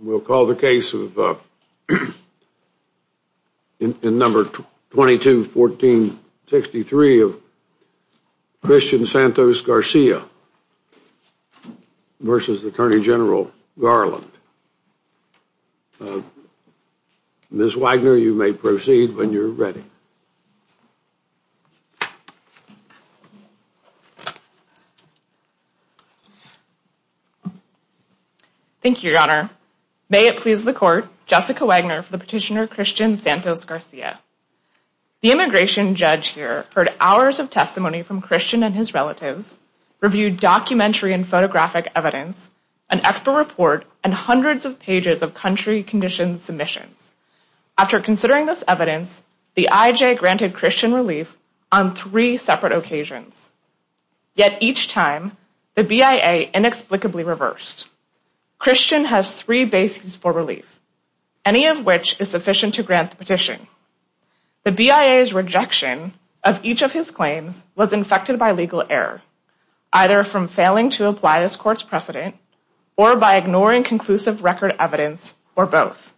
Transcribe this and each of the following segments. We'll call the case in number 221463 of Christian Santos Garcia versus Attorney General Garland. Ms. Wagner, you may proceed when you're ready. Ms. Wagner Thank you, Your Honor. May it please the court, Jessica Wagner for the petitioner Christian Santos Garcia. The immigration judge here heard hours of testimony from Christian and his relatives, reviewed documentary and photographic evidence, an expert report, and hundreds of pages of country condition submissions. After considering this evidence, the IJ granted Christian relief on three separate occasions, yet each time the BIA inexplicably reversed. Christian has three bases for relief, any of which is sufficient to grant the petition. The BIA's rejection of each of his claims was infected by legal error, either from failing to apply this court's precedent or by ignoring conclusive record evidence or both.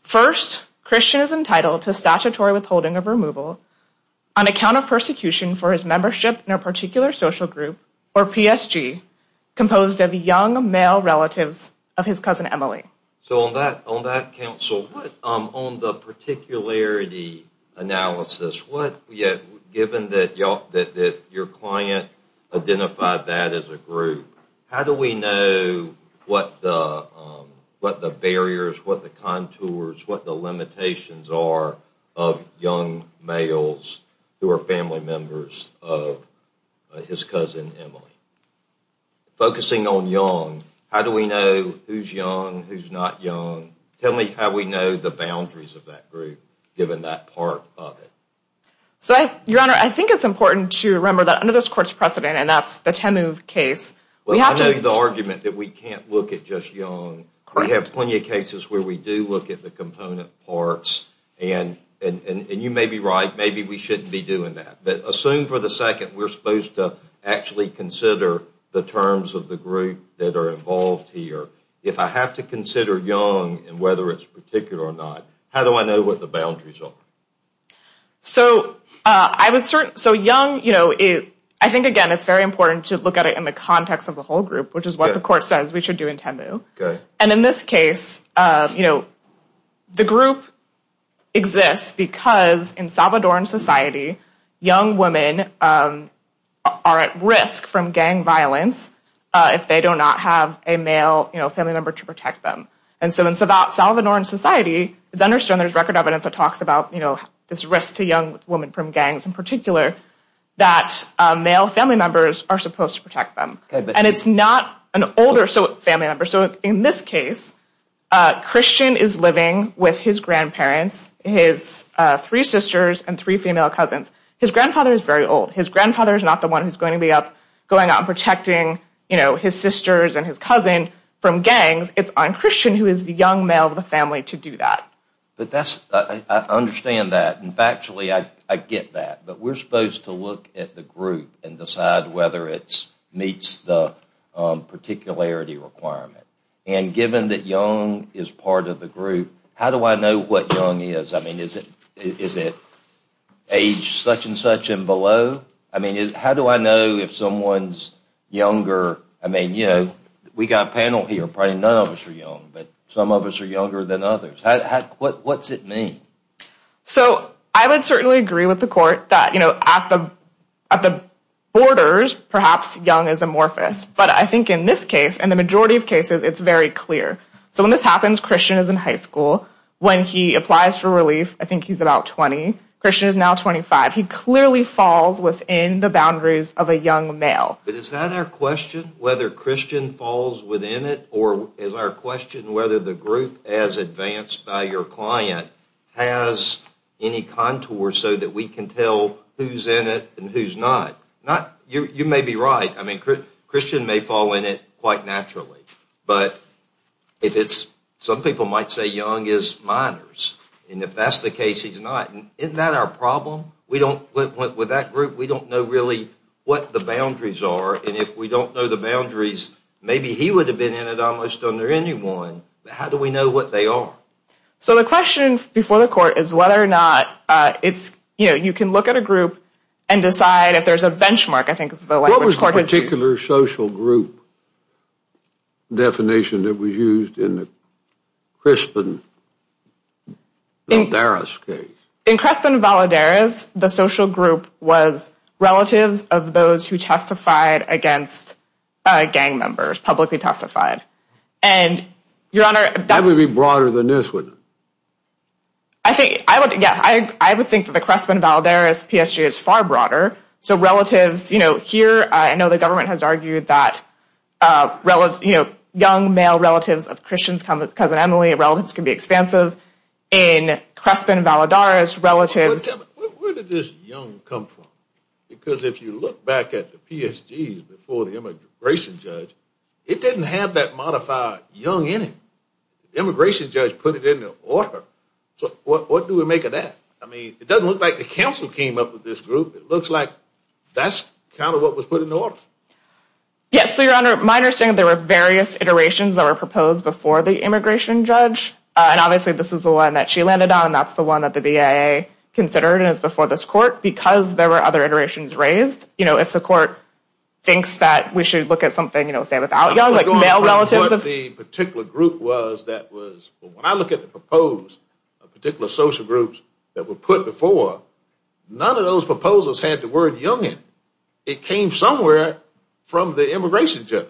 First, Christian is entitled to statutory withholding of removal on account of persecution for his membership in a particular social group, or PSG, composed of young male relatives of his cousin Emily. So on that, on that counsel, what, on the particularity analysis, what, given that your client identified that as a group, how do we know what the, what the barriers, what the contours, what the limitations are of young males who are family members of his cousin Emily? Focusing on young, how do we know who's young, who's not young? Tell me how we know the boundaries of that group, given that part of it. So I, your honor, I think it's important to remember that under this court's precedent, and that's the Temuv case, we have to... Well I know the argument that we can't look at just young. We have plenty of cases where we do look at the component parts, and, and you may be right, maybe we shouldn't be doing that. But assume for the second we're supposed to actually consider the terms of the group that are involved here. If I have to consider young, and whether it's particular or not, how do I know what the boundaries are? So I would certainly, so young, you know, it, I think again, it's very important to look at it in the context of the whole group, which is what the court says we should do in Temuv. And in this case, you know, the group exists because in Salvadoran society, young women are at risk from gang violence if they do not have a male, you know, family member to protect them. And so it's about Salvadoran society, it's understood there's record evidence that talks about, you know, this risk to young women from gangs in particular, that male family members are supposed to protect them. And it's not an older family member. So in this case, Christian is living with his grandparents, his three sisters, and three female cousins. His grandfather is very old. His grandfather is not the one who's going to be up going out and protecting, you know, his sisters and his cousin from gangs. It's on Christian, who is the young male of the family, to do that. But that's, I understand that. And factually, I get that. But we're supposed to look at the group and decide whether it meets the particularity requirement. And given that young is part of the group, how do I know what young is? I mean, is it age such and such and below? I mean, how do I know if someone's younger? I mean, you know, we've got a panel here, probably none of us are young, but some of us are younger than others. What's it mean? So I would certainly agree with the court that, you know, at the borders, perhaps young is amorphous. But I think in this case, and the majority of cases, it's very clear. So when this happens, Christian is in high school. When he applies for relief, I think he's about 20. Christian is now 25. He clearly falls within the boundaries of a young male. But is that our question, whether Christian falls within it, or is our question whether the group as advanced by your client has any contour so that we can tell who's in it and who's not? You may be right. I mean, Christian may fall in it quite naturally. But if it's, some people might say young is minors. And if that's the case, he's not. Isn't that our problem? We don't, with that group, we don't know really what the boundaries are. And if we don't know the boundaries, maybe he would have been in it almost under anyone. But how do we know what they are? So the question before the court is whether or not, it's, you know, you can look at a group and decide if there's a benchmark, I think is the language. What was the particular social group definition that was used in the Crespin-Valadares case? In Crespin-Valadares, the social group was relatives of those who testified against gang members, publicly testified. And your honor, that would be broader than this, wouldn't it? I think, I would, yeah, I would think that the Crespin-Valadares PSG is far broader. So relatives, you know, here, I know the government has argued that, you know, young male relatives of Christian's cousin Emily, relatives can be expansive. In Crespin-Valadares, relatives. Where did this young come from? Because if you look back at the PSG before the immigration judge, it didn't have that modified young in it. Immigration judge put it in the order. So what do we make of that? I mean, it doesn't look like the council came up with this group. It looks like that's kind of what was put in the order. Yes, so your honor, my understanding, there were various iterations that were proposed before the immigration judge. And obviously this is the one that she landed on. That's the one that the BIA considered and it's before this court because there were other iterations raised. You know, if the court thinks that we should look at something, you know, say without young, like male relatives. What the particular group was that was, when I look at the proposed particular social groups that were put before, none of those proposals had the word young in it. It came somewhere from the immigration judge.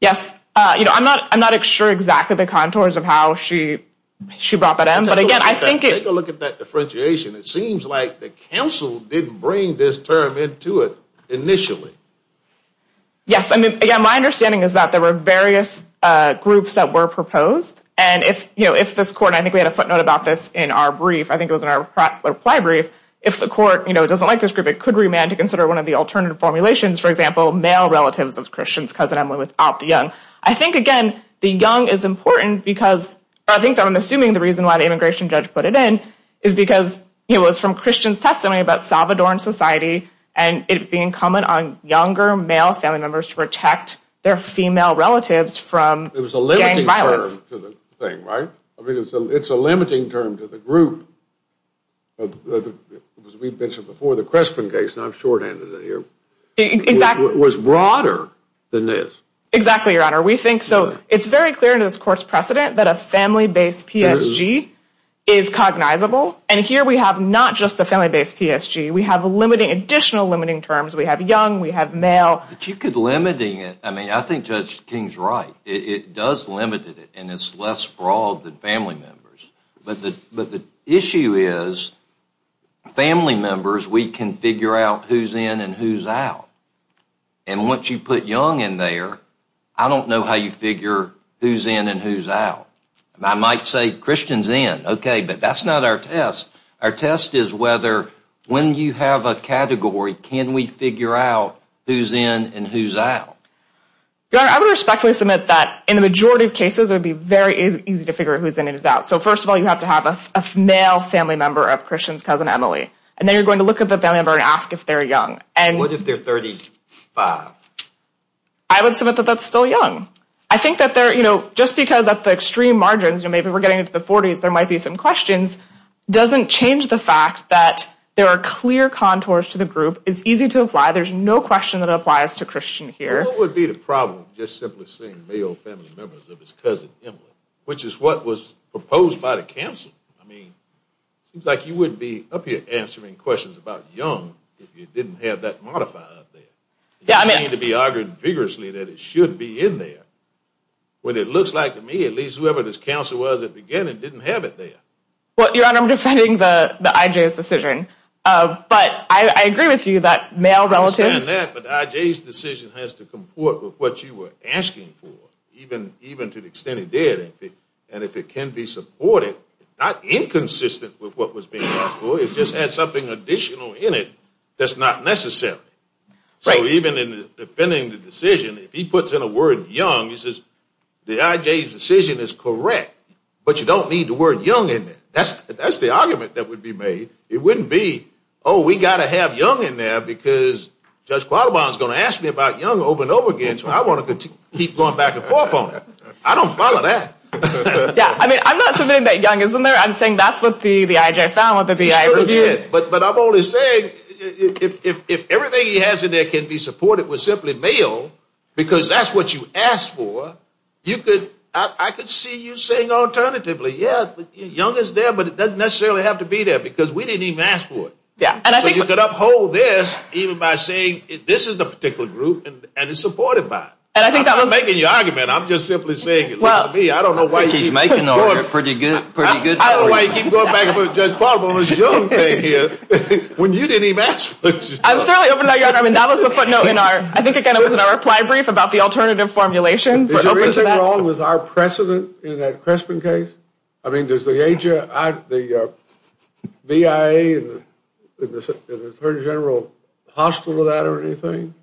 Yes, you know, I'm not, I'm not sure exactly the contours of how she, she brought that in. But again, I think, take a look at that differentiation. It seems like the council didn't bring this term into it initially. Yes. I mean, again, my understanding is that there were various groups that were proposed. And if, you know, if this court, I think we had a footnote about this in our brief, I think it was in our reply brief. If the court, you know, doesn't like this group, it could remand to consider one of the alternative formulations, for example, male relatives of Christian's cousin Emily without the young. I think, again, the young is important because I think I'm assuming the reason why the immigration judge put it in is because it was from Christian's testimony about Salvadoran society and it being common on younger male family members to protect their female relatives from gang violence. It was a limiting term to the thing, right? I mean, it's a limiting term to the group. As we've mentioned before, the Crespin case, and I'm shorthanded here, was broader than this. Exactly, Your Honor. We think so. It's very clear in this court's precedent that a family-based PSG is cognizable. And here we have not just a family-based PSG, we have additional limiting terms. We have young, we have male. But you could limiting it. I mean, I think Judge King's right. It does limit it and it's less broad than family members. But the issue is family members, we can figure out who's in and who's out. And once you put young in there, I don't know how you figure who's in and who's out. I might say Christian's in, okay, but that's not our test. Our test is whether, when you have a category, can we figure out who's in and who's out? I would respectfully submit that in the majority of cases, it would be very easy to figure who's in and who's out. So first of all, you have to have a male family member of Christian's cousin Emily. And then you're going to look at the family member and ask if they're young. And what if they're 35? I would submit that that's still young. I think that they're, you know, just because at the extreme margins, you know, maybe we're getting into the 40s, there might be some questions, doesn't change the fact that there are clear contours to the group. It's easy to apply. There's no question that applies to Christian here. What would be the problem just simply seeing male family members of his cousin Emily, which is what was proposed by the council? I mean, it seems like you wouldn't be up here answering questions about young if you didn't have that modifier up there. Yeah, I mean. You seem to be arguing vigorously that it should be in there. When it looks like to me, at least whoever this council was at the beginning didn't have it there. Well, Your Honor, I'm defending the I.J.'s decision. But I agree with you that male relatives. I understand that, but the I.J.'s decision has to comport with what you were asking for, even to the extent it did. And if it can be supported, not inconsistent with what was being asked for, it just had something additional in it that's not necessary. So even in defending the decision, if he puts in a word young, he says the I.J.'s decision is correct, but you don't need the word young in it. That's the argument that would be made. It wouldn't be, oh, we got to have young in there because Judge Qualibon is going to ask me about young over and over again. So I want to keep going back and forth on that. I don't follow that. Yeah, I mean, I'm not saying that young isn't there. I'm saying that's what the I.J. found, what the B.I. reviewed. But I'm only saying if everything he has in there can be supported with simply male, because that's what you asked for, I could see you saying alternatively, yeah, young is there, but it doesn't necessarily have to be there because we didn't even ask for it. So you could uphold this even by saying this is the particular group and it's supported by it. And I think that was making your argument. I'm just simply saying it. Well, I don't know why you keep going back and forth with Judge Qualibon on this young thing here when you didn't even ask for it. I'm certainly opening up your argument. That was the footnote in our, I think it was in our reply brief about the alternative formulations. Is there anything wrong with our precedent in that Crespin case? I mean, does the V.I.A. and the Attorney General hostile to that or anything?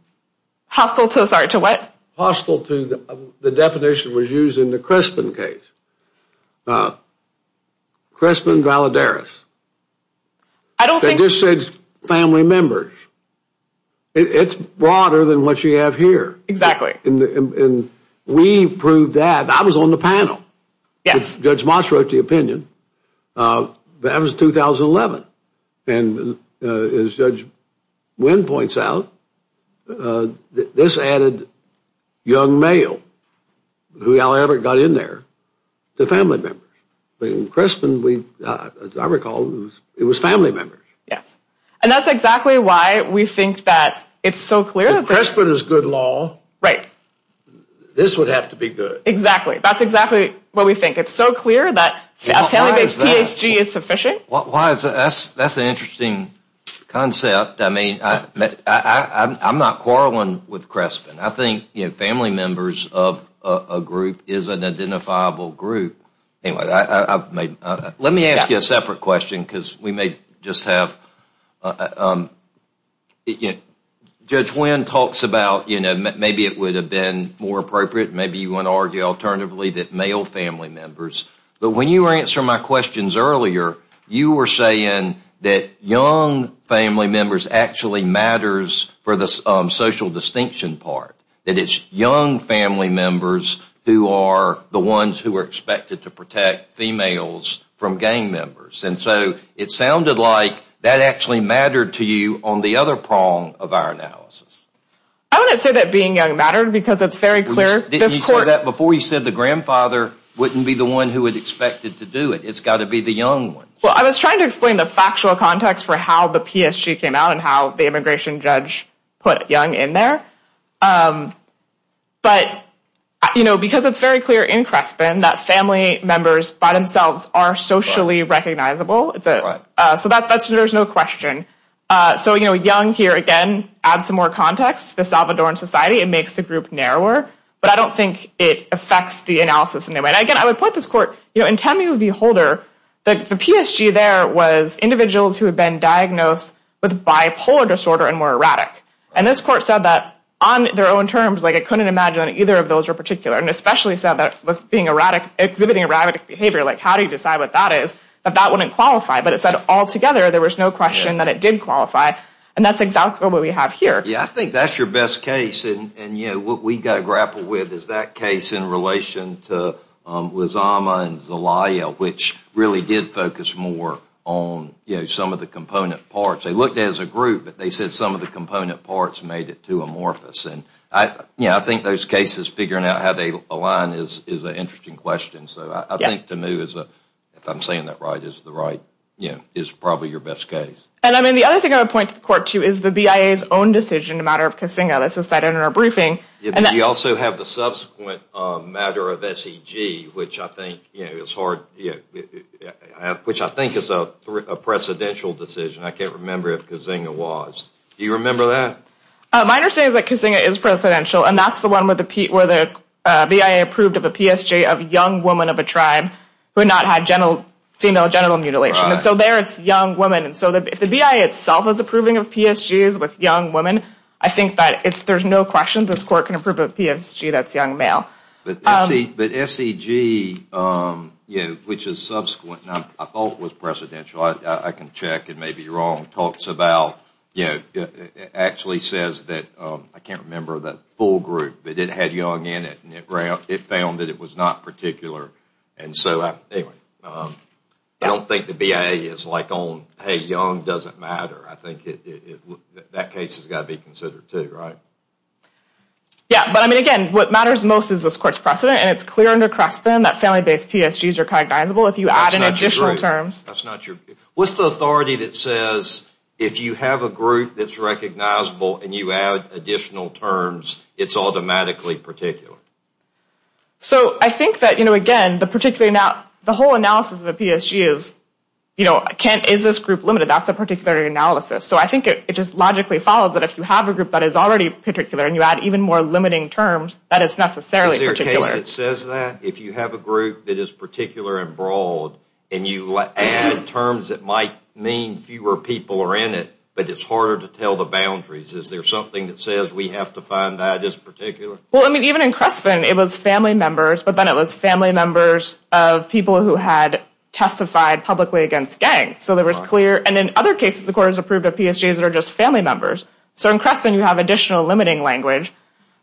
Hostile to what? Hostile to the definition that was used in the Crespin case. Crespin Valadares. I don't think. You just said family members. It's broader than what you have here. Exactly. And we proved that. I was on the panel. Yes. Judge Moss wrote the opinion. That was 2011. And as Judge Wynn points out, this added young male, whoever got in there, to family members. In Crespin, as I recall, it was family members. And that's exactly why we think that it's so clear. If Crespin is good law, this would have to be good. Exactly. That's exactly what we think. It's so clear that family-based PSG is sufficient. That's an interesting concept. I mean, I'm not quarreling with Crespin. I think family members of a group is an identifiable group. Anyway, let me ask you a separate question because we may just have. Judge Wynn talks about maybe it would have been more appropriate. Maybe you want to argue alternatively that male family members. But when you were answering my questions earlier, you were saying that young family members actually matters for the social distinction part. That it's young family members who are the ones who are expected to protect females from gang members. And so it sounded like that actually mattered to you on the other prong of our analysis. I want to say that being young mattered because it's very clear. Before you said the grandfather wouldn't be the one who would expect it to do it. It's got to be the young one. Well, I was trying to explain the factual context for how the PSG came out and how the immigration judge put young in there. But, you know, because it's very clear in Crespin that family members by themselves are socially recognizable. So there's no question. So, you know, young here, again, adds some more context to the Salvadoran society. It makes the group narrower. But I don't think it affects the analysis in any way. And again, I would point this court, you know, in Temu V. Holder, the PSG there was individuals who had been diagnosed with bipolar disorder and were erratic. And this court said that on their own terms, like it couldn't imagine that either of those were particular. And especially said that with being erratic, exhibiting erratic behavior, like how do you decide what that is, that that wouldn't qualify. But it said altogether there was no question that it did qualify. And that's exactly what we have here. Yeah, I think that's your best case. And, you know, what we've got to grapple with is that case in relation to Lizama and Zelaya, which really did focus more on, you know, some of the component parts. They looked at it as a group, but they said some of the component parts made it too amorphous. And, you know, I think those cases, figuring out how they align is an interesting question. So I think Temu, if I'm saying that right, is the right, you know, is probably your best case. And I mean, the other thing I would point to the court, too, is the BIA's own decision in the matter of Kazinga. This is cited in our briefing. You also have the subsequent matter of SEG, which I think, you know, is hard, which I think is a precedential decision. I can't remember if Kazinga was. Do you remember that? My understanding is that Kazinga is precedential, and that's the one where the BIA approved of a PSG of a young woman of a tribe who had not had female genital mutilation. So there it's young women. And so if the BIA itself is approving of PSGs with young women, I think that there's no question this court can approve a PSG that's young male. But SEG, you know, which is subsequent, I thought was precedential. I can check and may be wrong, talks about, you know, it actually says that, I can't remember the full group, but it had young in it, and it found that it was not particular. And so I don't think the BIA is like on, hey, young doesn't matter. I think that case has got to be considered, too, right? Yeah, but I mean, again, what matters most is this court's precedent, and it's clear under Creston that family-based PSGs are cognizable if you add in additional terms. That's not your, what's the authority that says if you have a group that's recognizable and you add additional terms, it's automatically particular? So I think that, you know, again, the particular, the whole analysis of a PSG is, you know, is this group limited? That's a particular analysis. So I think it just logically follows that if you have a group that is already particular and you add even more limiting terms, that it's necessarily particular. Is there a case that says that? If you have a group that is particular and broad, and you add terms that might mean fewer people are in it, but it's harder to tell the boundaries, is there something that says we have to find that as particular? Well, I mean, even in Creston, it was family members, but then it was family members of people who had testified publicly against gangs. So there was clear, and in other cases, the court has approved of PSGs that are just family members. So in Creston, you have additional language.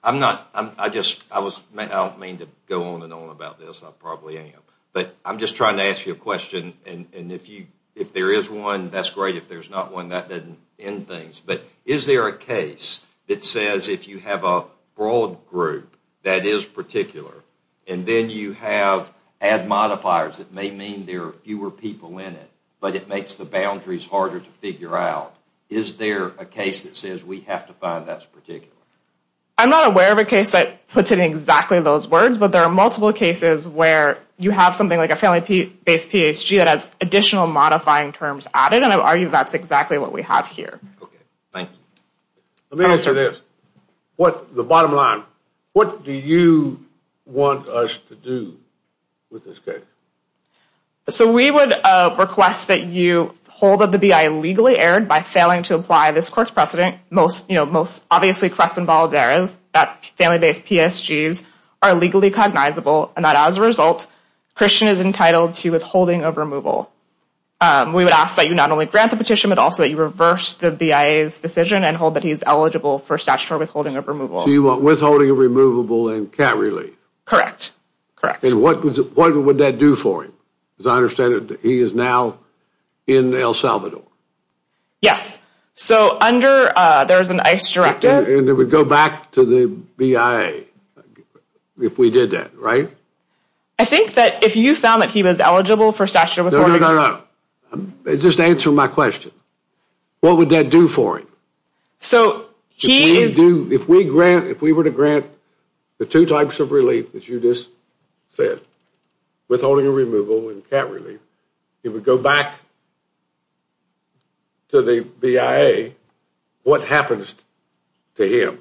I'm not, I just, I was, I don't mean to go on and on about this. I probably am. But I'm just trying to ask you a question, and if you, if there is one, that's great. If there's not one, that doesn't end things. But is there a case that says if you have a broad group that is particular, and then you have, add modifiers that may mean there are fewer people in it, but it makes the I'm not aware of a case that puts it in exactly those words, but there are multiple cases where you have something like a family-based PSG that has additional modifying terms added, and I would argue that's exactly what we have here. Okay, thank you. Let me answer this. What, the bottom line, what do you want us to do with this case? So we would request that you hold up the BI illegally aired by failing to apply this court's precedent, most, you know, obviously Crespin-Balderas, that family-based PSGs are legally cognizable, and that as a result, Christian is entitled to withholding of removal. We would ask that you not only grant the petition, but also that you reverse the BIA's decision and hold that he is eligible for statutory withholding of removal. So you want withholding of removable and cat relief? Correct. Correct. And what would that do for him? Because I understand that he is now in El Salvador. Yes. So under, there's an ICE directive. And it would go back to the BIA if we did that, right? I think that if you found that he was eligible for statutory withholding. No, no, no, no. Just answer my question. What would that do for him? So he is. If we grant, if we were to grant the two types of relief that you just said, withholding of removal and cat relief, it would go back to the BIA. What happens to him?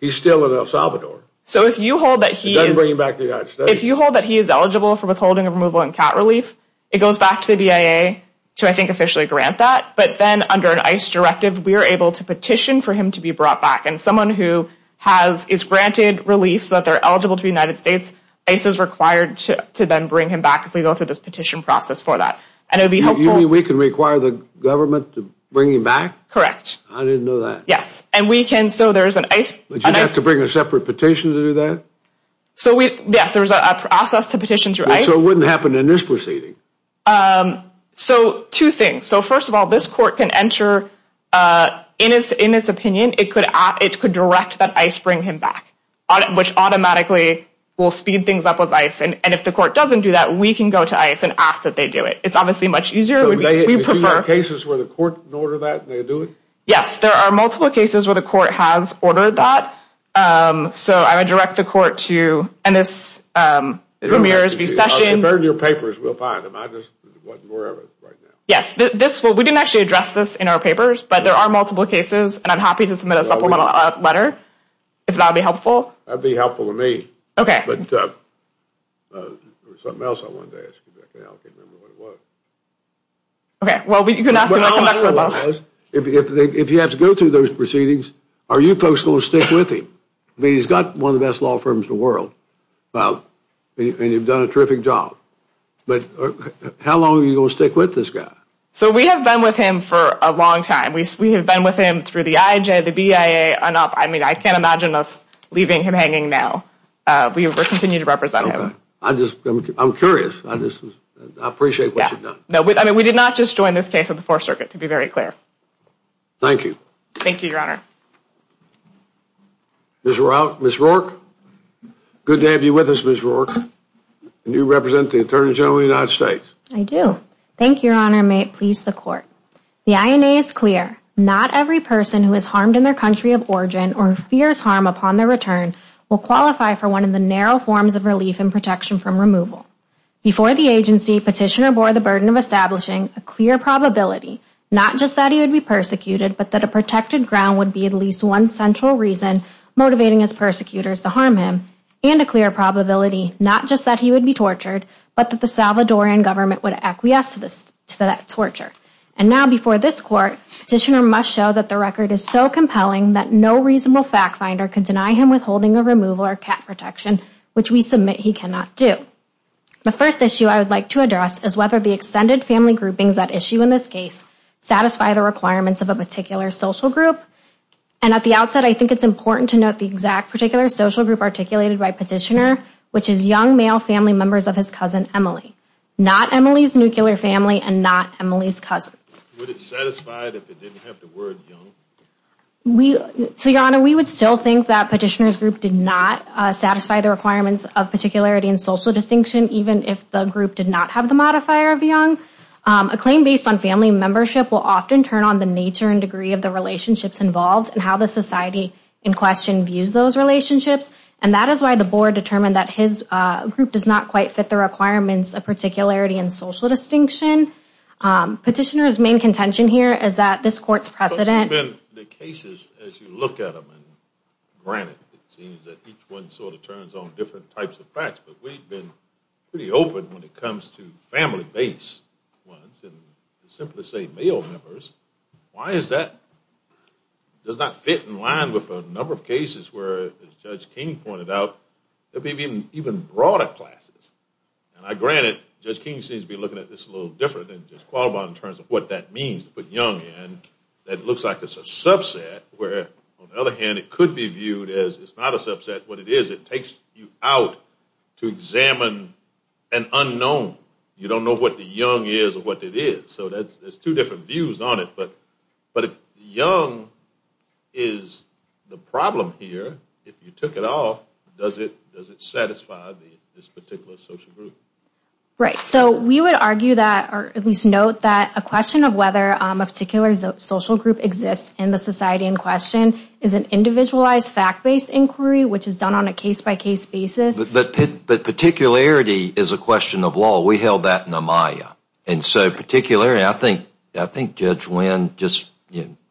He's still in El Salvador. It doesn't bring him back to the United States. If you hold that he is eligible for withholding of removal and cat relief, it goes back to the BIA to, I think, officially grant that. But then under an ICE directive, we are able to petition for him to be brought back. And someone who has, is granted relief so that they're eligible to the United States, ICE is required to then bring him back if we go through this petition process for that. And it would be helpful. You mean we can require the government to bring him back? Correct. I didn't know that. Yes. And we can, so there's an ICE. But you'd have to bring a separate petition to do that? So we, yes, there's a process to petition through ICE. So it wouldn't happen in this proceeding? So two things. So first of all, this court can enter in its opinion, it could direct that ICE bring him back, which automatically will speed things up with ICE. And if the court doesn't do that, we can go to ICE and ask that they do it. It's obviously much easier. We prefer cases where the court can order that and they do it? Yes, there are multiple cases where the court has ordered that. So I would direct the court to, and this, Ramirez v. Sessions. I'll refer to your papers. We'll find them. I just wasn't aware of it right now. Yes, this, we didn't actually address this in our papers, but there are multiple cases and I'm happy to submit a supplemental letter if that would be helpful. That'd be okay. But there was something else I wanted to ask you about. I can't remember what it was. Okay. Well, you can ask him. I'll come back to it. I don't know what it was. If you have to go through those proceedings, are you folks going to stick with him? I mean, he's got one of the best law firms in the world. And you've done a terrific job. But how long are you going to stick with this guy? So we have been with him for a long time. We have been with him through the IJ, the BIA, enough. I mean, I can't imagine us leaving him hanging now. We will continue to represent him. I just, I'm curious. I just appreciate what you've done. No, I mean, we did not just join this case of the fourth circuit to be very clear. Thank you. Thank you, Your Honor. Ms. Rourke, good to have you with us, Ms. Rourke. And you represent the Attorney General of the United States. I do. Thank you, Your Honor. May it please the court. The INA is clear. Not every person who is harmed in their country of origin or fears harm upon their return will qualify for one of the narrow forms of relief and protection from removal. Before the agency, Petitioner bore the burden of establishing a clear probability, not just that he would be persecuted, but that a protected ground would be at least one central reason motivating his persecutors to harm him. And a clear probability, not just that he would be before this court, Petitioner must show that the record is so compelling that no reasonable fact finder can deny him withholding a removal or cap protection, which we submit he cannot do. The first issue I would like to address is whether the extended family groupings that issue in this case satisfy the requirements of a particular social group. And at the outset, I think it's important to note the exact particular social group articulated by Petitioner, which is young male family members of his cousin, Emily. Not Emily's nuclear family and not Emily's would it satisfied if it didn't have the word young? We, so your honor, we would still think that Petitioner's group did not satisfy the requirements of particularity and social distinction, even if the group did not have the modifier of young. A claim based on family membership will often turn on the nature and degree of the relationships involved and how the society in question views those relationships. And that is why the board determined that his group does not quite fit the requirements of particularity and social distinction. Petitioner's main contention here is that this court's precedent. The cases as you look at them, and granted it seems that each one sort of turns on different types of facts, but we've been pretty open when it comes to family-based ones and simply say male members. Why is that? Does that fit in line with a number of cases where, as Judge King pointed out, there may be even broader classes? And granted, Judge King seems to be looking at this a little different than Judge Qualibon in terms of what that means to put young in. That looks like it's a subset where, on the other hand, it could be viewed as it's not a subset. What it is, it takes you out to examine an unknown. You don't know what the young is or what it is. So there's two different views on it. But if young is the problem here, if you took it off, does it satisfy this particular social group? Right. So we would argue that, or at least note that, a question of whether a particular social group exists in the society in question is an individualized fact-based inquiry, which is done on a case-by-case basis. But particularity is a question of law. We held that in a maya. And so particularity, I think Judge Wynn just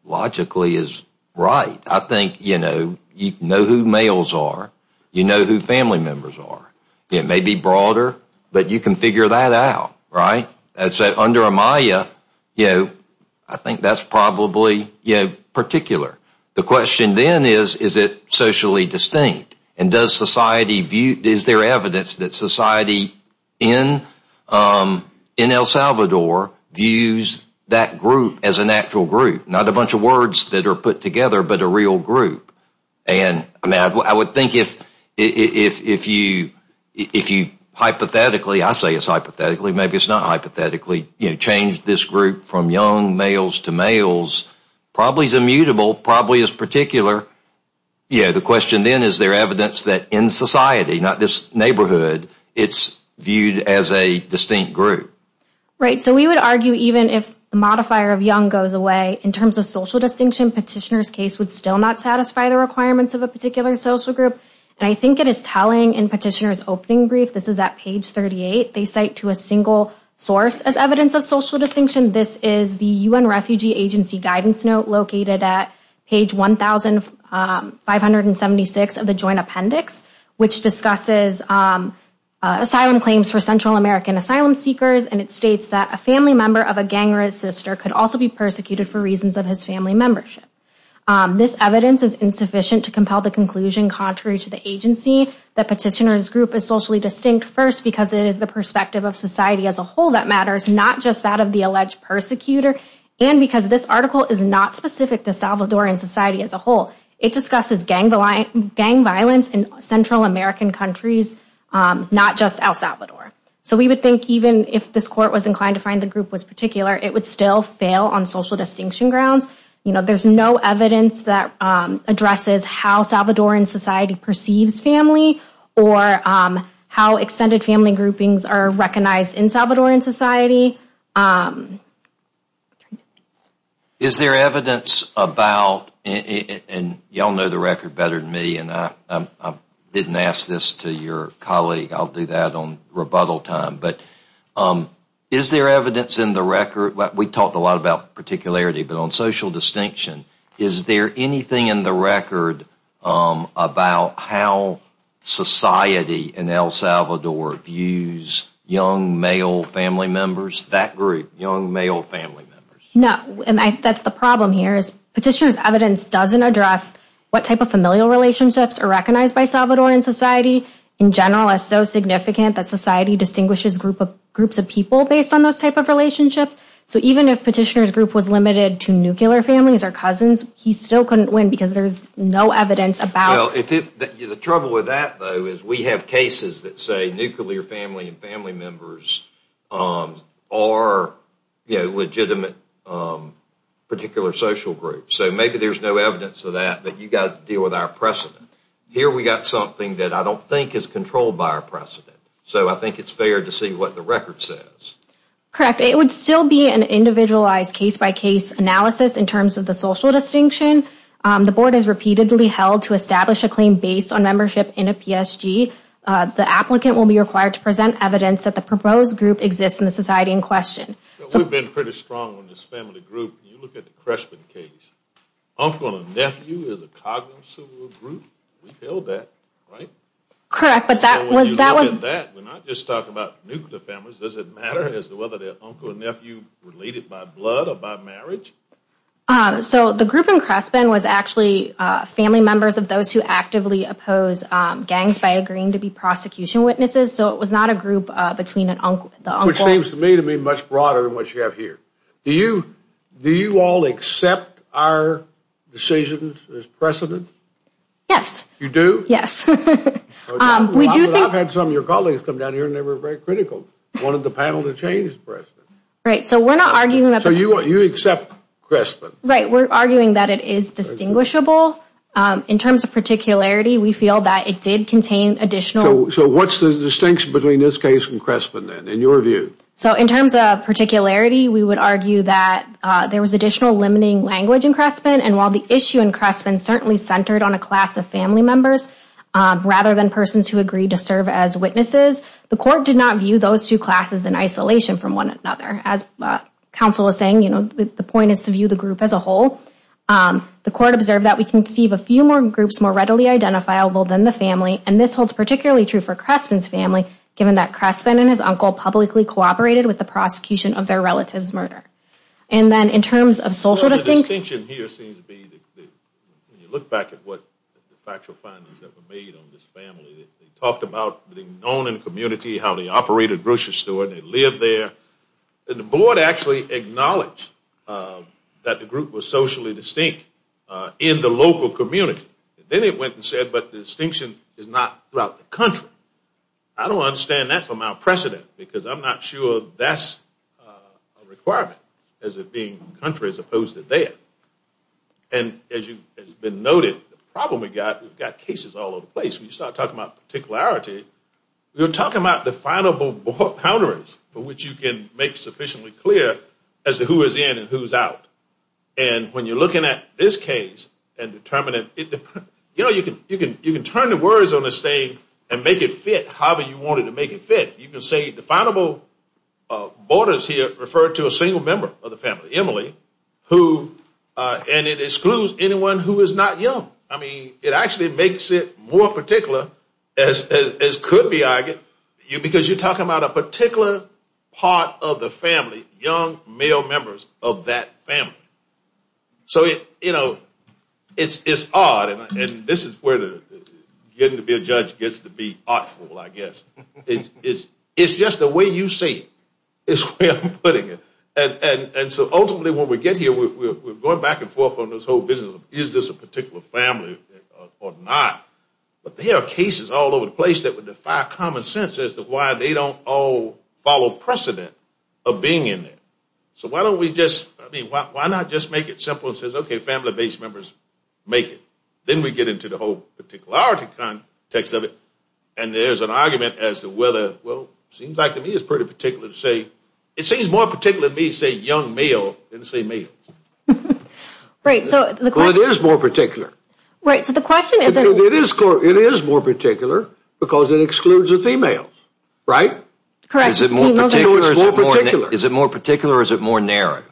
logically is right. I think, you know, you know who males are. You know who family members are. It may be broader, but you can figure that out, right? So under a maya, I think that's probably particular. The question then is, is it socially distinct? And does society view, is there evidence that in El Salvador views that group as an actual group? Not a bunch of words that are put together, but a real group. And I mean, I would think if you hypothetically, I say it's hypothetically, maybe it's not hypothetically, you know, change this group from young males to males, probably is immutable, probably is particular. Yeah, the question then is there evidence that in society, not this neighborhood, it's viewed as a distinct group. Right, so we would argue even if the modifier of young goes away, in terms of social distinction, petitioner's case would still not satisfy the requirements of a particular social group. And I think it is telling in petitioner's opening brief, this is at page 38, they cite to a single source as evidence of social distinction. This is the UN Refugee Agency guidance note located at page 1576 of the Joint Appendix. Which discusses asylum claims for Central American asylum seekers, and it states that a family member of a gang or his sister could also be persecuted for reasons of his family membership. This evidence is insufficient to compel the conclusion contrary to the agency that petitioner's group is socially distinct first because it is the perspective of society as a whole that matters, not just that of the alleged persecutor, and because this article is not specific to Salvadoran society as a whole. It discusses gang violence in Central American countries, not just El Salvador. So we would think even if this court was inclined to find the group was particular, it would still fail on social distinction grounds. You know, there's no evidence that addresses how Salvadoran society perceives family or how extended family groupings are recognized in Salvadoran society. Is there evidence about, and y'all know the record better than me, and I didn't ask this to your colleague, I'll do that on rebuttal time, but is there evidence in the record, we talked a lot about particularity, but on social distinction, is there anything in the record about how society in El Salvador, young male family members? No, and that's the problem here is petitioner's evidence doesn't address what type of familial relationships are recognized by Salvadoran society in general is so significant that society distinguishes groups of people based on those type of relationships. So even if petitioner's group was limited to nuclear families or cousins, he still couldn't win because there's no evidence about it. The trouble with that though is we have cases that say nuclear family and family members are legitimate particular social groups. So maybe there's no evidence of that, but you've got to deal with our precedent. Here we've got something that I don't think is controlled by our precedent. So I think it's fair to see what the record says. Correct. It would still be an individualized case-by-case analysis in terms of the social distinction. The board has repeatedly held to establish a claim based on membership in a PSG. The applicant will be required to present evidence that the proposed group exists in the society in question. So we've been pretty strong on this family group. You look at the Crespin case, uncle and nephew is a cognizant group. We've held that, right? Correct, but that was that was that we're not just talking about nuclear families. Does it matter as to whether their uncle and nephew related by blood or by marriage? So the group in Crespin was actually family members of those who actively oppose gangs by agreeing to be prosecution witnesses. So it was not a group between an uncle. Which seems to me to be much broader than what you have here. Do you all accept our decisions as precedent? Yes. You do? Yes. I've had some of your colleagues come down here and they were very critical. Wanted the panel to change the precedent. Right, so we're not arguing that. So you accept Crespin? Right, we're arguing that it is distinguishable in terms of particularity. We feel that it did contain additional. So what's the distinction between this case and Crespin then in your view? So in terms of particularity, we would argue that there was additional limiting language in Crespin. And while the issue in Crespin certainly centered on a class of family members rather than persons who agreed to serve as witnesses, the court did not view those two classes in isolation from one another. As counsel is saying, you know, the point is to view the group as a whole. The court observed that we conceive a few more groups more readily identifiable than the family, and this holds particularly true for Crespin's family, given that Crespin and his uncle publicly cooperated with the prosecution of their relative's murder. And then in terms of social distinction. The distinction here seems to be, when you look back at what the factual findings that were made on this family, they talked about being known in the community, how they operated grocery store, and they lived there. And the board actually acknowledged that the group was socially distinct in the local community. Then it went and said, but the distinction is not throughout the country. I don't understand that for my precedent, because I'm not sure that's a requirement as it being country as opposed to there. And as has been noted, the problem we've got, we've got cases all over the place. When you start talking about particularity, you're talking about definable boundaries, which you can make sufficiently clear as to who is in and who is out. And when you're looking at this case, and determining, you know, you can turn the words on the stage and make it fit however you wanted to make it fit. You can say definable borders here refer to a single member of the family, Emily, who, and it excludes anyone who is not young. I mean, it actually makes it more particular as could be argued, because you're talking about a particular part of the family, young male members of that family. So, you know, it's odd, and this is where getting to be a judge gets to be I guess. It's just the way you say it is where I'm putting it. And so ultimately when we get here, we're going back and forth on this whole business of is this a particular family or not. But there are cases all over the place that would defy common sense as to why they don't all follow precedent of being in there. So why don't we just, I mean, why not just make it simple and say, okay, family base members make it. Then we get into the whole particularity context of it, and there's an argument as to whether, well, it seems like to me it's pretty particular to say, it seems more particular to me to say young male than to say male. Right, so the question is more particular. Right, so the question is. It is more particular because it excludes the females, right? Correct. Is it more particular? Is it more particular? Is it more narrow?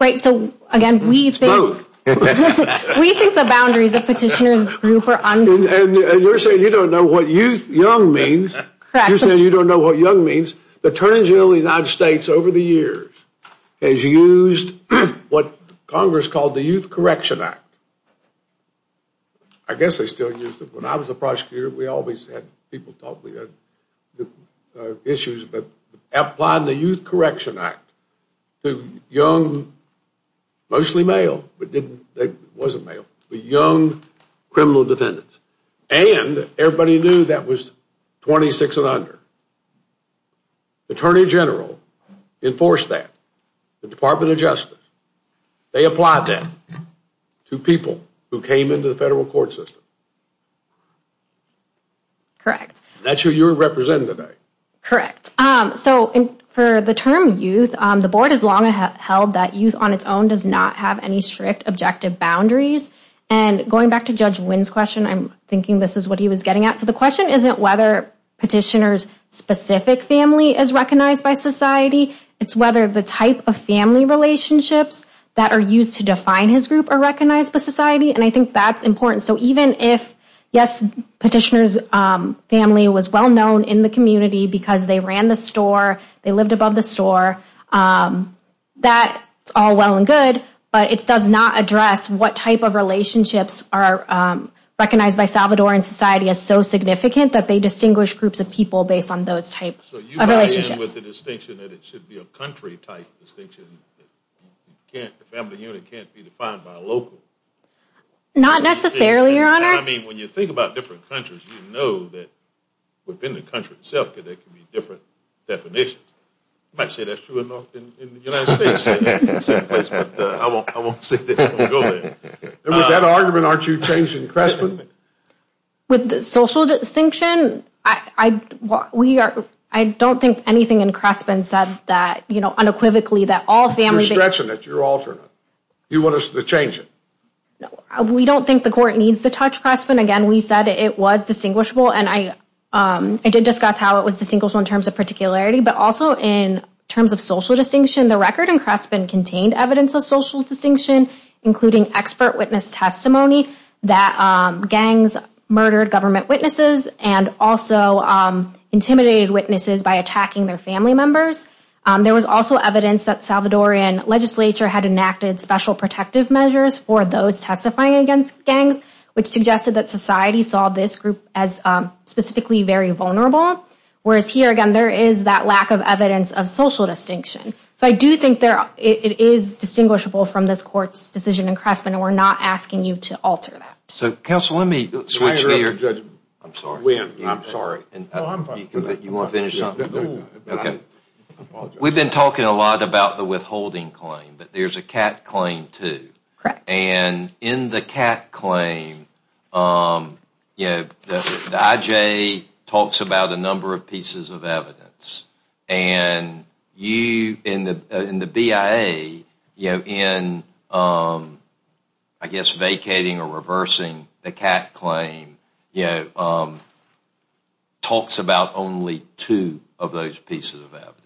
Right, so again, we think the boundaries of petitioners group are. And you're saying you don't know what youth young means. You say you don't know what young means. The Attorney General of the United States over the years has used what Congress called the Youth Correction Act. I guess they still use it. When I was a prosecutor, we always had people talk. Issues, but applied the Youth Correction Act to young, mostly male, but didn't, they wasn't male, but young criminal defendants. And everybody knew that was 26 and under. The Attorney General enforced that. The Department of Justice, they applied that to people who came into the federal court system. Correct, that's who you're representing today, correct? So for the term youth, the board has long held that youth on its own does not have any strict objective boundaries. And going back to Judge Wynn's question, I'm thinking this is what he was getting at. So the question isn't whether petitioners specific family is recognized by society. It's whether the type of family relationships that are used to define his group are recognized by society. And I think that's important. So even if, yes, petitioner's family was well known in the community because they ran the store, they lived above the store, that's all well and good, but it does not address what type of relationships are recognized by Salvadoran society as so significant that they distinguish groups of people based on those types of relationships. So you buy in with the distinction that it should be a country type distinction, that the family unit can't be defined by a local? Not necessarily, your honor. I mean, when you think about different countries, you know that within the country itself, there can be different definitions. I might say that's true in the United States, but I won't say that. And with that argument, aren't you changing Crespin? With the social distinction, I don't think anything in Crespin said that, you know, unequivocally that all families... You're stretching it, you're altering it. You want us to change it? No, we don't think the court needs to touch Crespin. Again, we said it was distinguishable and I did discuss how it was distinguishable in terms of particularity, but also in terms of social distinction, the record in Crespin contained evidence of social distinction, including expert witness testimony that gangs murdered government witnesses and also intimidated witnesses by attacking their family members. There was also evidence that Salvadoran legislature had enacted special protective measures for those testifying against gangs, which suggested that society saw this group as specifically very vulnerable. Whereas here, again, there is that lack of evidence of social distinction. So I do think it is distinguishable from this court's decision in Crespin and we're not asking you to alter that. So counsel, let me switch here. We've been talking a lot about the withholding claim, but there's a CAT claim too. Correct. And in the CAT claim, you know, the IJ talks about a number of pieces of evidence and you in the BIA, you know, in I guess vacating or reversing the CAT claim, you know, talks about only two of those pieces of evidence.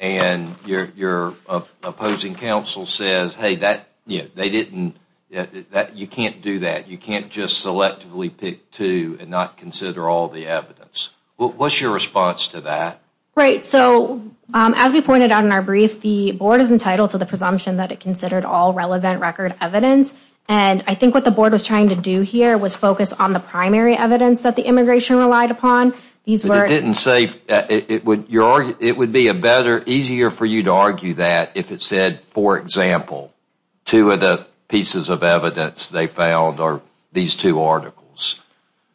And your opposing counsel says, hey, that, you know, they didn't, you can't do that. You can't just selectively pick two and not consider all the evidence. What's your response to that? Right. So as we pointed out in our brief, the board is entitled to the presumption that it considered all relevant record evidence. And I think what the board was trying to do here was focus on the primary evidence that the immigration relied upon. These weren't safe. It would be a better, easier for you to argue that if it said, for example, two of the pieces of evidence they found are these two articles.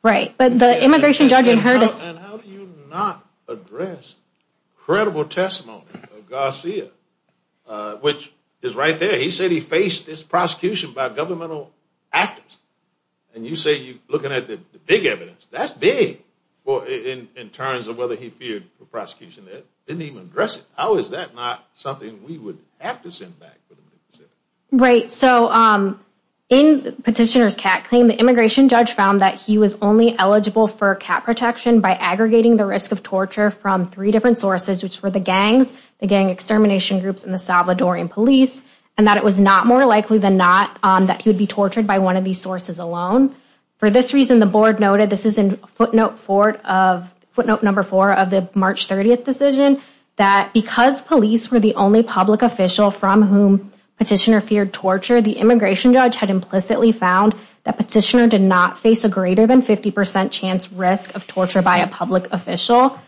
Right. But the immigration judge inherited. And how do you not address credible testimony of Garcia, which is right there. He said he faced this prosecution by governmental actors. And you say, you looking at the big evidence, that's big for in terms of whether he feared prosecution that didn't even address it. How is that not something we would have to back? Right. So in petitioner's cat claim, the immigration judge found that he was only eligible for cat protection by aggregating the risk of torture from three different sources, which were the gangs, the gang extermination groups in the Salvadorian police, and that it was not more likely than not that he would be tortured by one of these sources alone. For this reason, the board noted this is in footnote four of footnote number four of the March 30th decision, that because police were the only public official from whom petitioner feared torture, the immigration judge had implicitly found that petitioner did not face a greater than 50 percent chance risk of torture by a public official,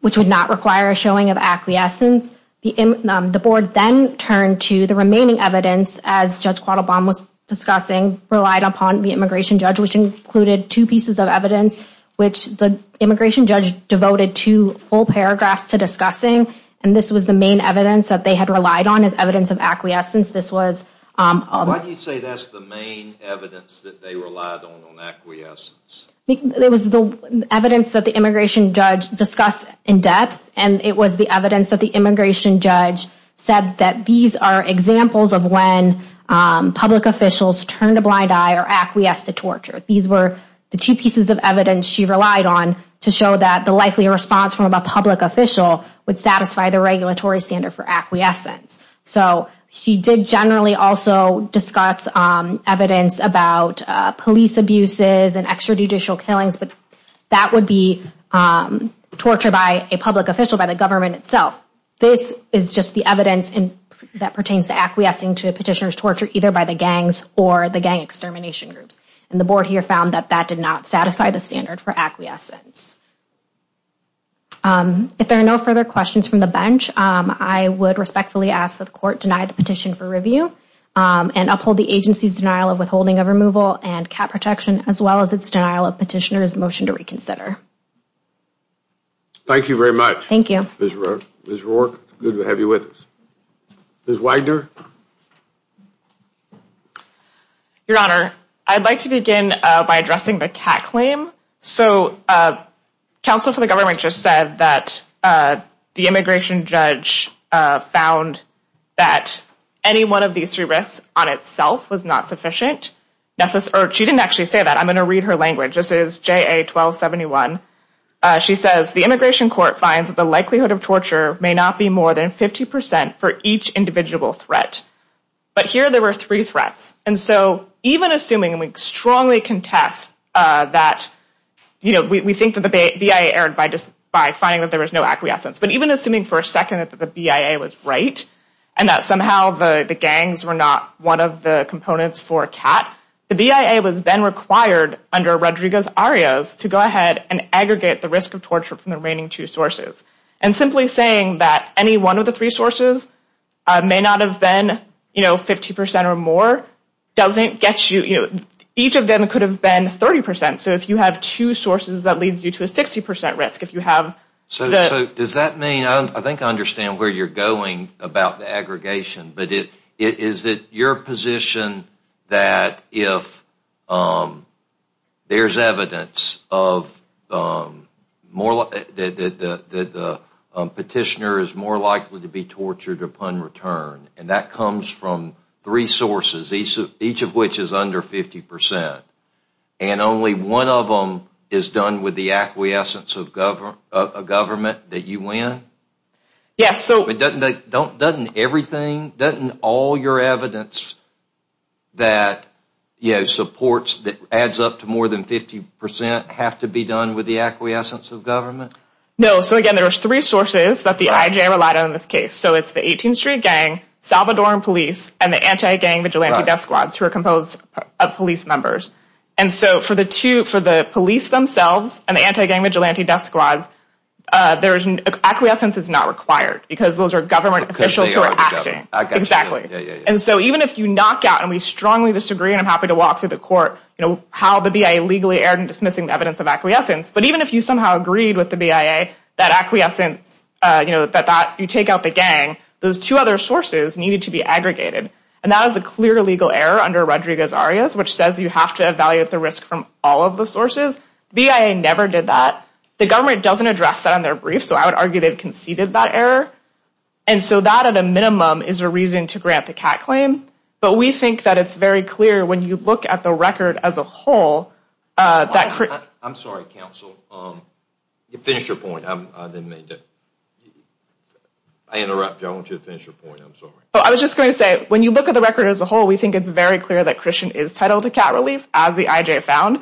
which would not require a showing of acquiescence. The board then turned to the remaining evidence, as Judge Quattlebaum was discussing, relied upon the immigration judge, which included two pieces of evidence, which the immigration judge devoted to full paragraphs to the main evidence that they had relied on as evidence of acquiescence. This was... Why do you say that's the main evidence that they relied on, on acquiescence? It was the evidence that the immigration judge discussed in depth, and it was the evidence that the immigration judge said that these are examples of when public officials turned a blind eye or acquiesced to torture. These were the two pieces of evidence she relied on to show that the likely response from a public official would satisfy the regulatory standard for acquiescence. So she did generally also discuss evidence about police abuses and extrajudicial killings, but that would be torture by a public official by the government itself. This is just the evidence that pertains to acquiescing to petitioner's torture either by the gangs or the gang extermination groups, and the board here that that did not satisfy the standard for acquiescence. If there are no further questions from the bench, I would respectfully ask that the court deny the petition for review and uphold the agency's denial of withholding of removal and cap protection, as well as its denial of petitioner's motion to reconsider. Thank you very much. Thank you. Ms. Roark, good to have you with us. Ms. Widener? Your Honor, I'd like to begin by addressing the CAC claim. So counsel for the government just said that the immigration judge found that any one of these three risks on itself was not sufficient. She didn't actually say that. I'm going to read her language. This is JA-1271. She says, the immigration court finds that the likelihood of torture may not be more than 50 percent for each individual threat. But here there were three threats. And so even assuming, and we strongly contest that, you know, we think that the BIA erred by finding that there was no acquiescence. But even assuming for a second that the BIA was right and that somehow the gangs were not one of the components for CAT, the BIA was then required under Rodriguez-Arias to go ahead and aggregate the risk of torture from the remaining two sources. And simply saying that any one of the three sources may not have been, you know, 50 percent or more doesn't get you, you know, each of them could have been 30 percent. So if you have two sources, that leads you to a 60 percent risk. So does that mean, I think I understand where you're going about the aggregation, but is it your position that if there's evidence that the petitioner is more likely to be tortured upon return, and that comes from three sources, each of which is under 50 percent, and only one of them is done with the acquiescence of a government that you win? Yes. But doesn't everything, doesn't all your evidence that, you know, supports that adds up to more than 50 percent have to be done with the acquiescence of government? No. So again, there are three sources that the IJA relied on in this case. So it's the 18th Street Gang, Salvadoran Police, and the Anti-Gang Vigilante Death Squads, who are composed of police members. And so for the two, for the police themselves and the Anti-Gang Vigilante Death Squads, acquiescence is not required because those are government officials who are acting. Exactly. And so even if you knock out, and we strongly disagree, and I'm happy to walk through the court, you know, how the BIA legally erred in dismissing the evidence of acquiescence, but even if you somehow agreed with the BIA that acquiescence, you know, that you take out the gang, those two other sources needed to be aggregated. And that was a clear legal error under Rodriguez-Arias, which says you have to evaluate the risk from all of the sources. The BIA never did that. The government doesn't address that on their briefs, so I would argue they've conceded that error. And so that, at a minimum, is a reason to grant the CAT claim. But we think that it's very clear when you look at the record as a whole, that... I'm sorry, counsel. You finished your point. I didn't mean to... I interrupted you. I want you to finish your point. I'm sorry. I was just going to say, when you look at the record as a whole, we think it's very clear that Christian is titled to CAT relief, as the IJ found.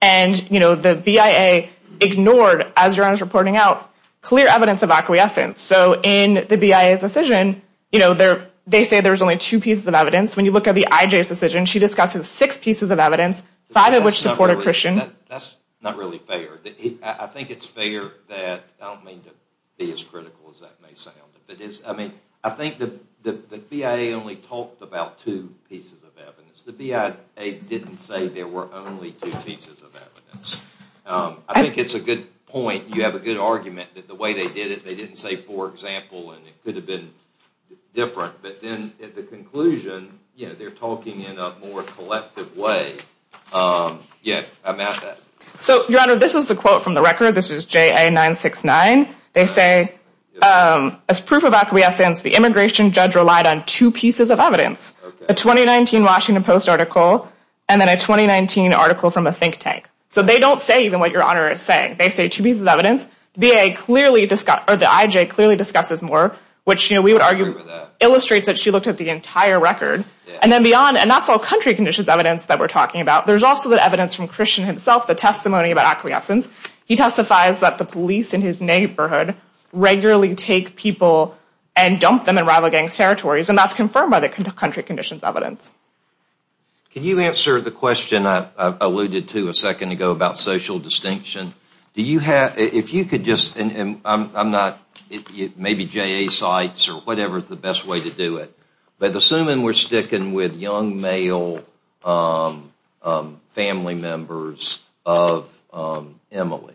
And, you know, the BIA ignored, as your Honor's of acquiescence. So in the BIA's decision, you know, they say there's only two pieces of evidence. When you look at the IJ's decision, she discusses six pieces of evidence, five of which supported Christian. That's not really fair. I think it's fair that... I don't mean to be as critical as that may sound, but it's... I mean, I think the BIA only talked about two pieces of evidence. The BIA didn't say there were only two pieces of evidence. I think it's a good point. You have a good argument that the way they did it, they didn't say, for example, and it could have been different. But then at the conclusion, you know, they're talking in a more collective way. Yeah, I'm at that. So, your Honor, this is the quote from the record. This is JA 969. They say, as proof of acquiescence, the immigration judge relied on two pieces of evidence. A 2019 Washington Post article, and then a 2019 article from a think tank. So they don't say even what your Honor is saying. They say two pieces of evidence. The IJ clearly discusses more, which we would argue illustrates that she looked at the entire record. And then beyond, and that's all country conditions evidence that we're talking about. There's also the evidence from Christian himself, the testimony about acquiescence. He testifies that the police in his neighborhood regularly take people and dump them in rival gangs' territories, and that's confirmed by the country conditions evidence. Can you answer the question, and I'm not, maybe JA cites or whatever is the best way to do it, but assuming we're sticking with young male family members of Emily,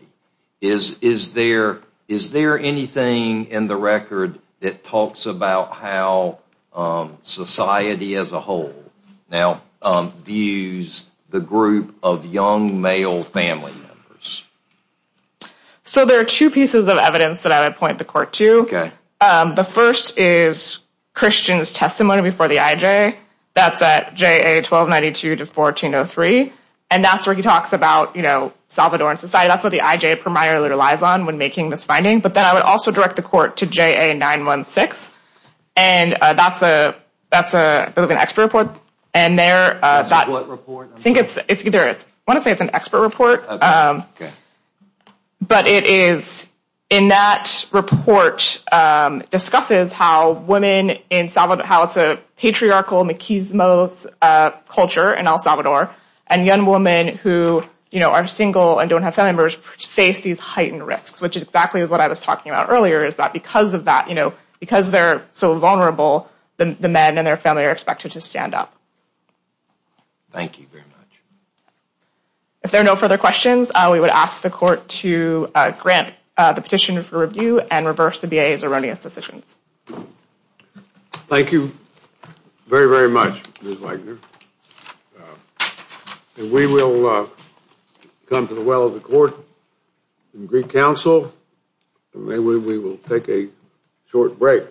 is there anything in the record that talks about how society as a whole now views the group of young male family members? So there are two pieces of evidence that I would point the court to. The first is Christian's testimony before the IJ. That's at JA 1292 to 1403, and that's where he talks about, you know, Salvadoran society. That's what the IJ primarily relies on when making this finding. But then I would also direct the court to JA 916, and that's an expert report. And there, I think it's either, I want to say it's an expert report, but it is, in that report, discusses how women in Salvador, how it's a patriarchal, machismo culture in El Salvador, and young women who, you know, are single and don't have family members face these heightened risks, which is exactly what I was talking about earlier, is that because of that, you know, because they're so vulnerable, the men and their family are expected to stand up. Thank you very much. If there are no further questions, we would ask the court to grant the petitioner for review and reverse the BIA's erroneous decisions. Thank you very, very much, Ms. Wagner. And we will come to the well of the court and Greek Council, and maybe we will take a short break.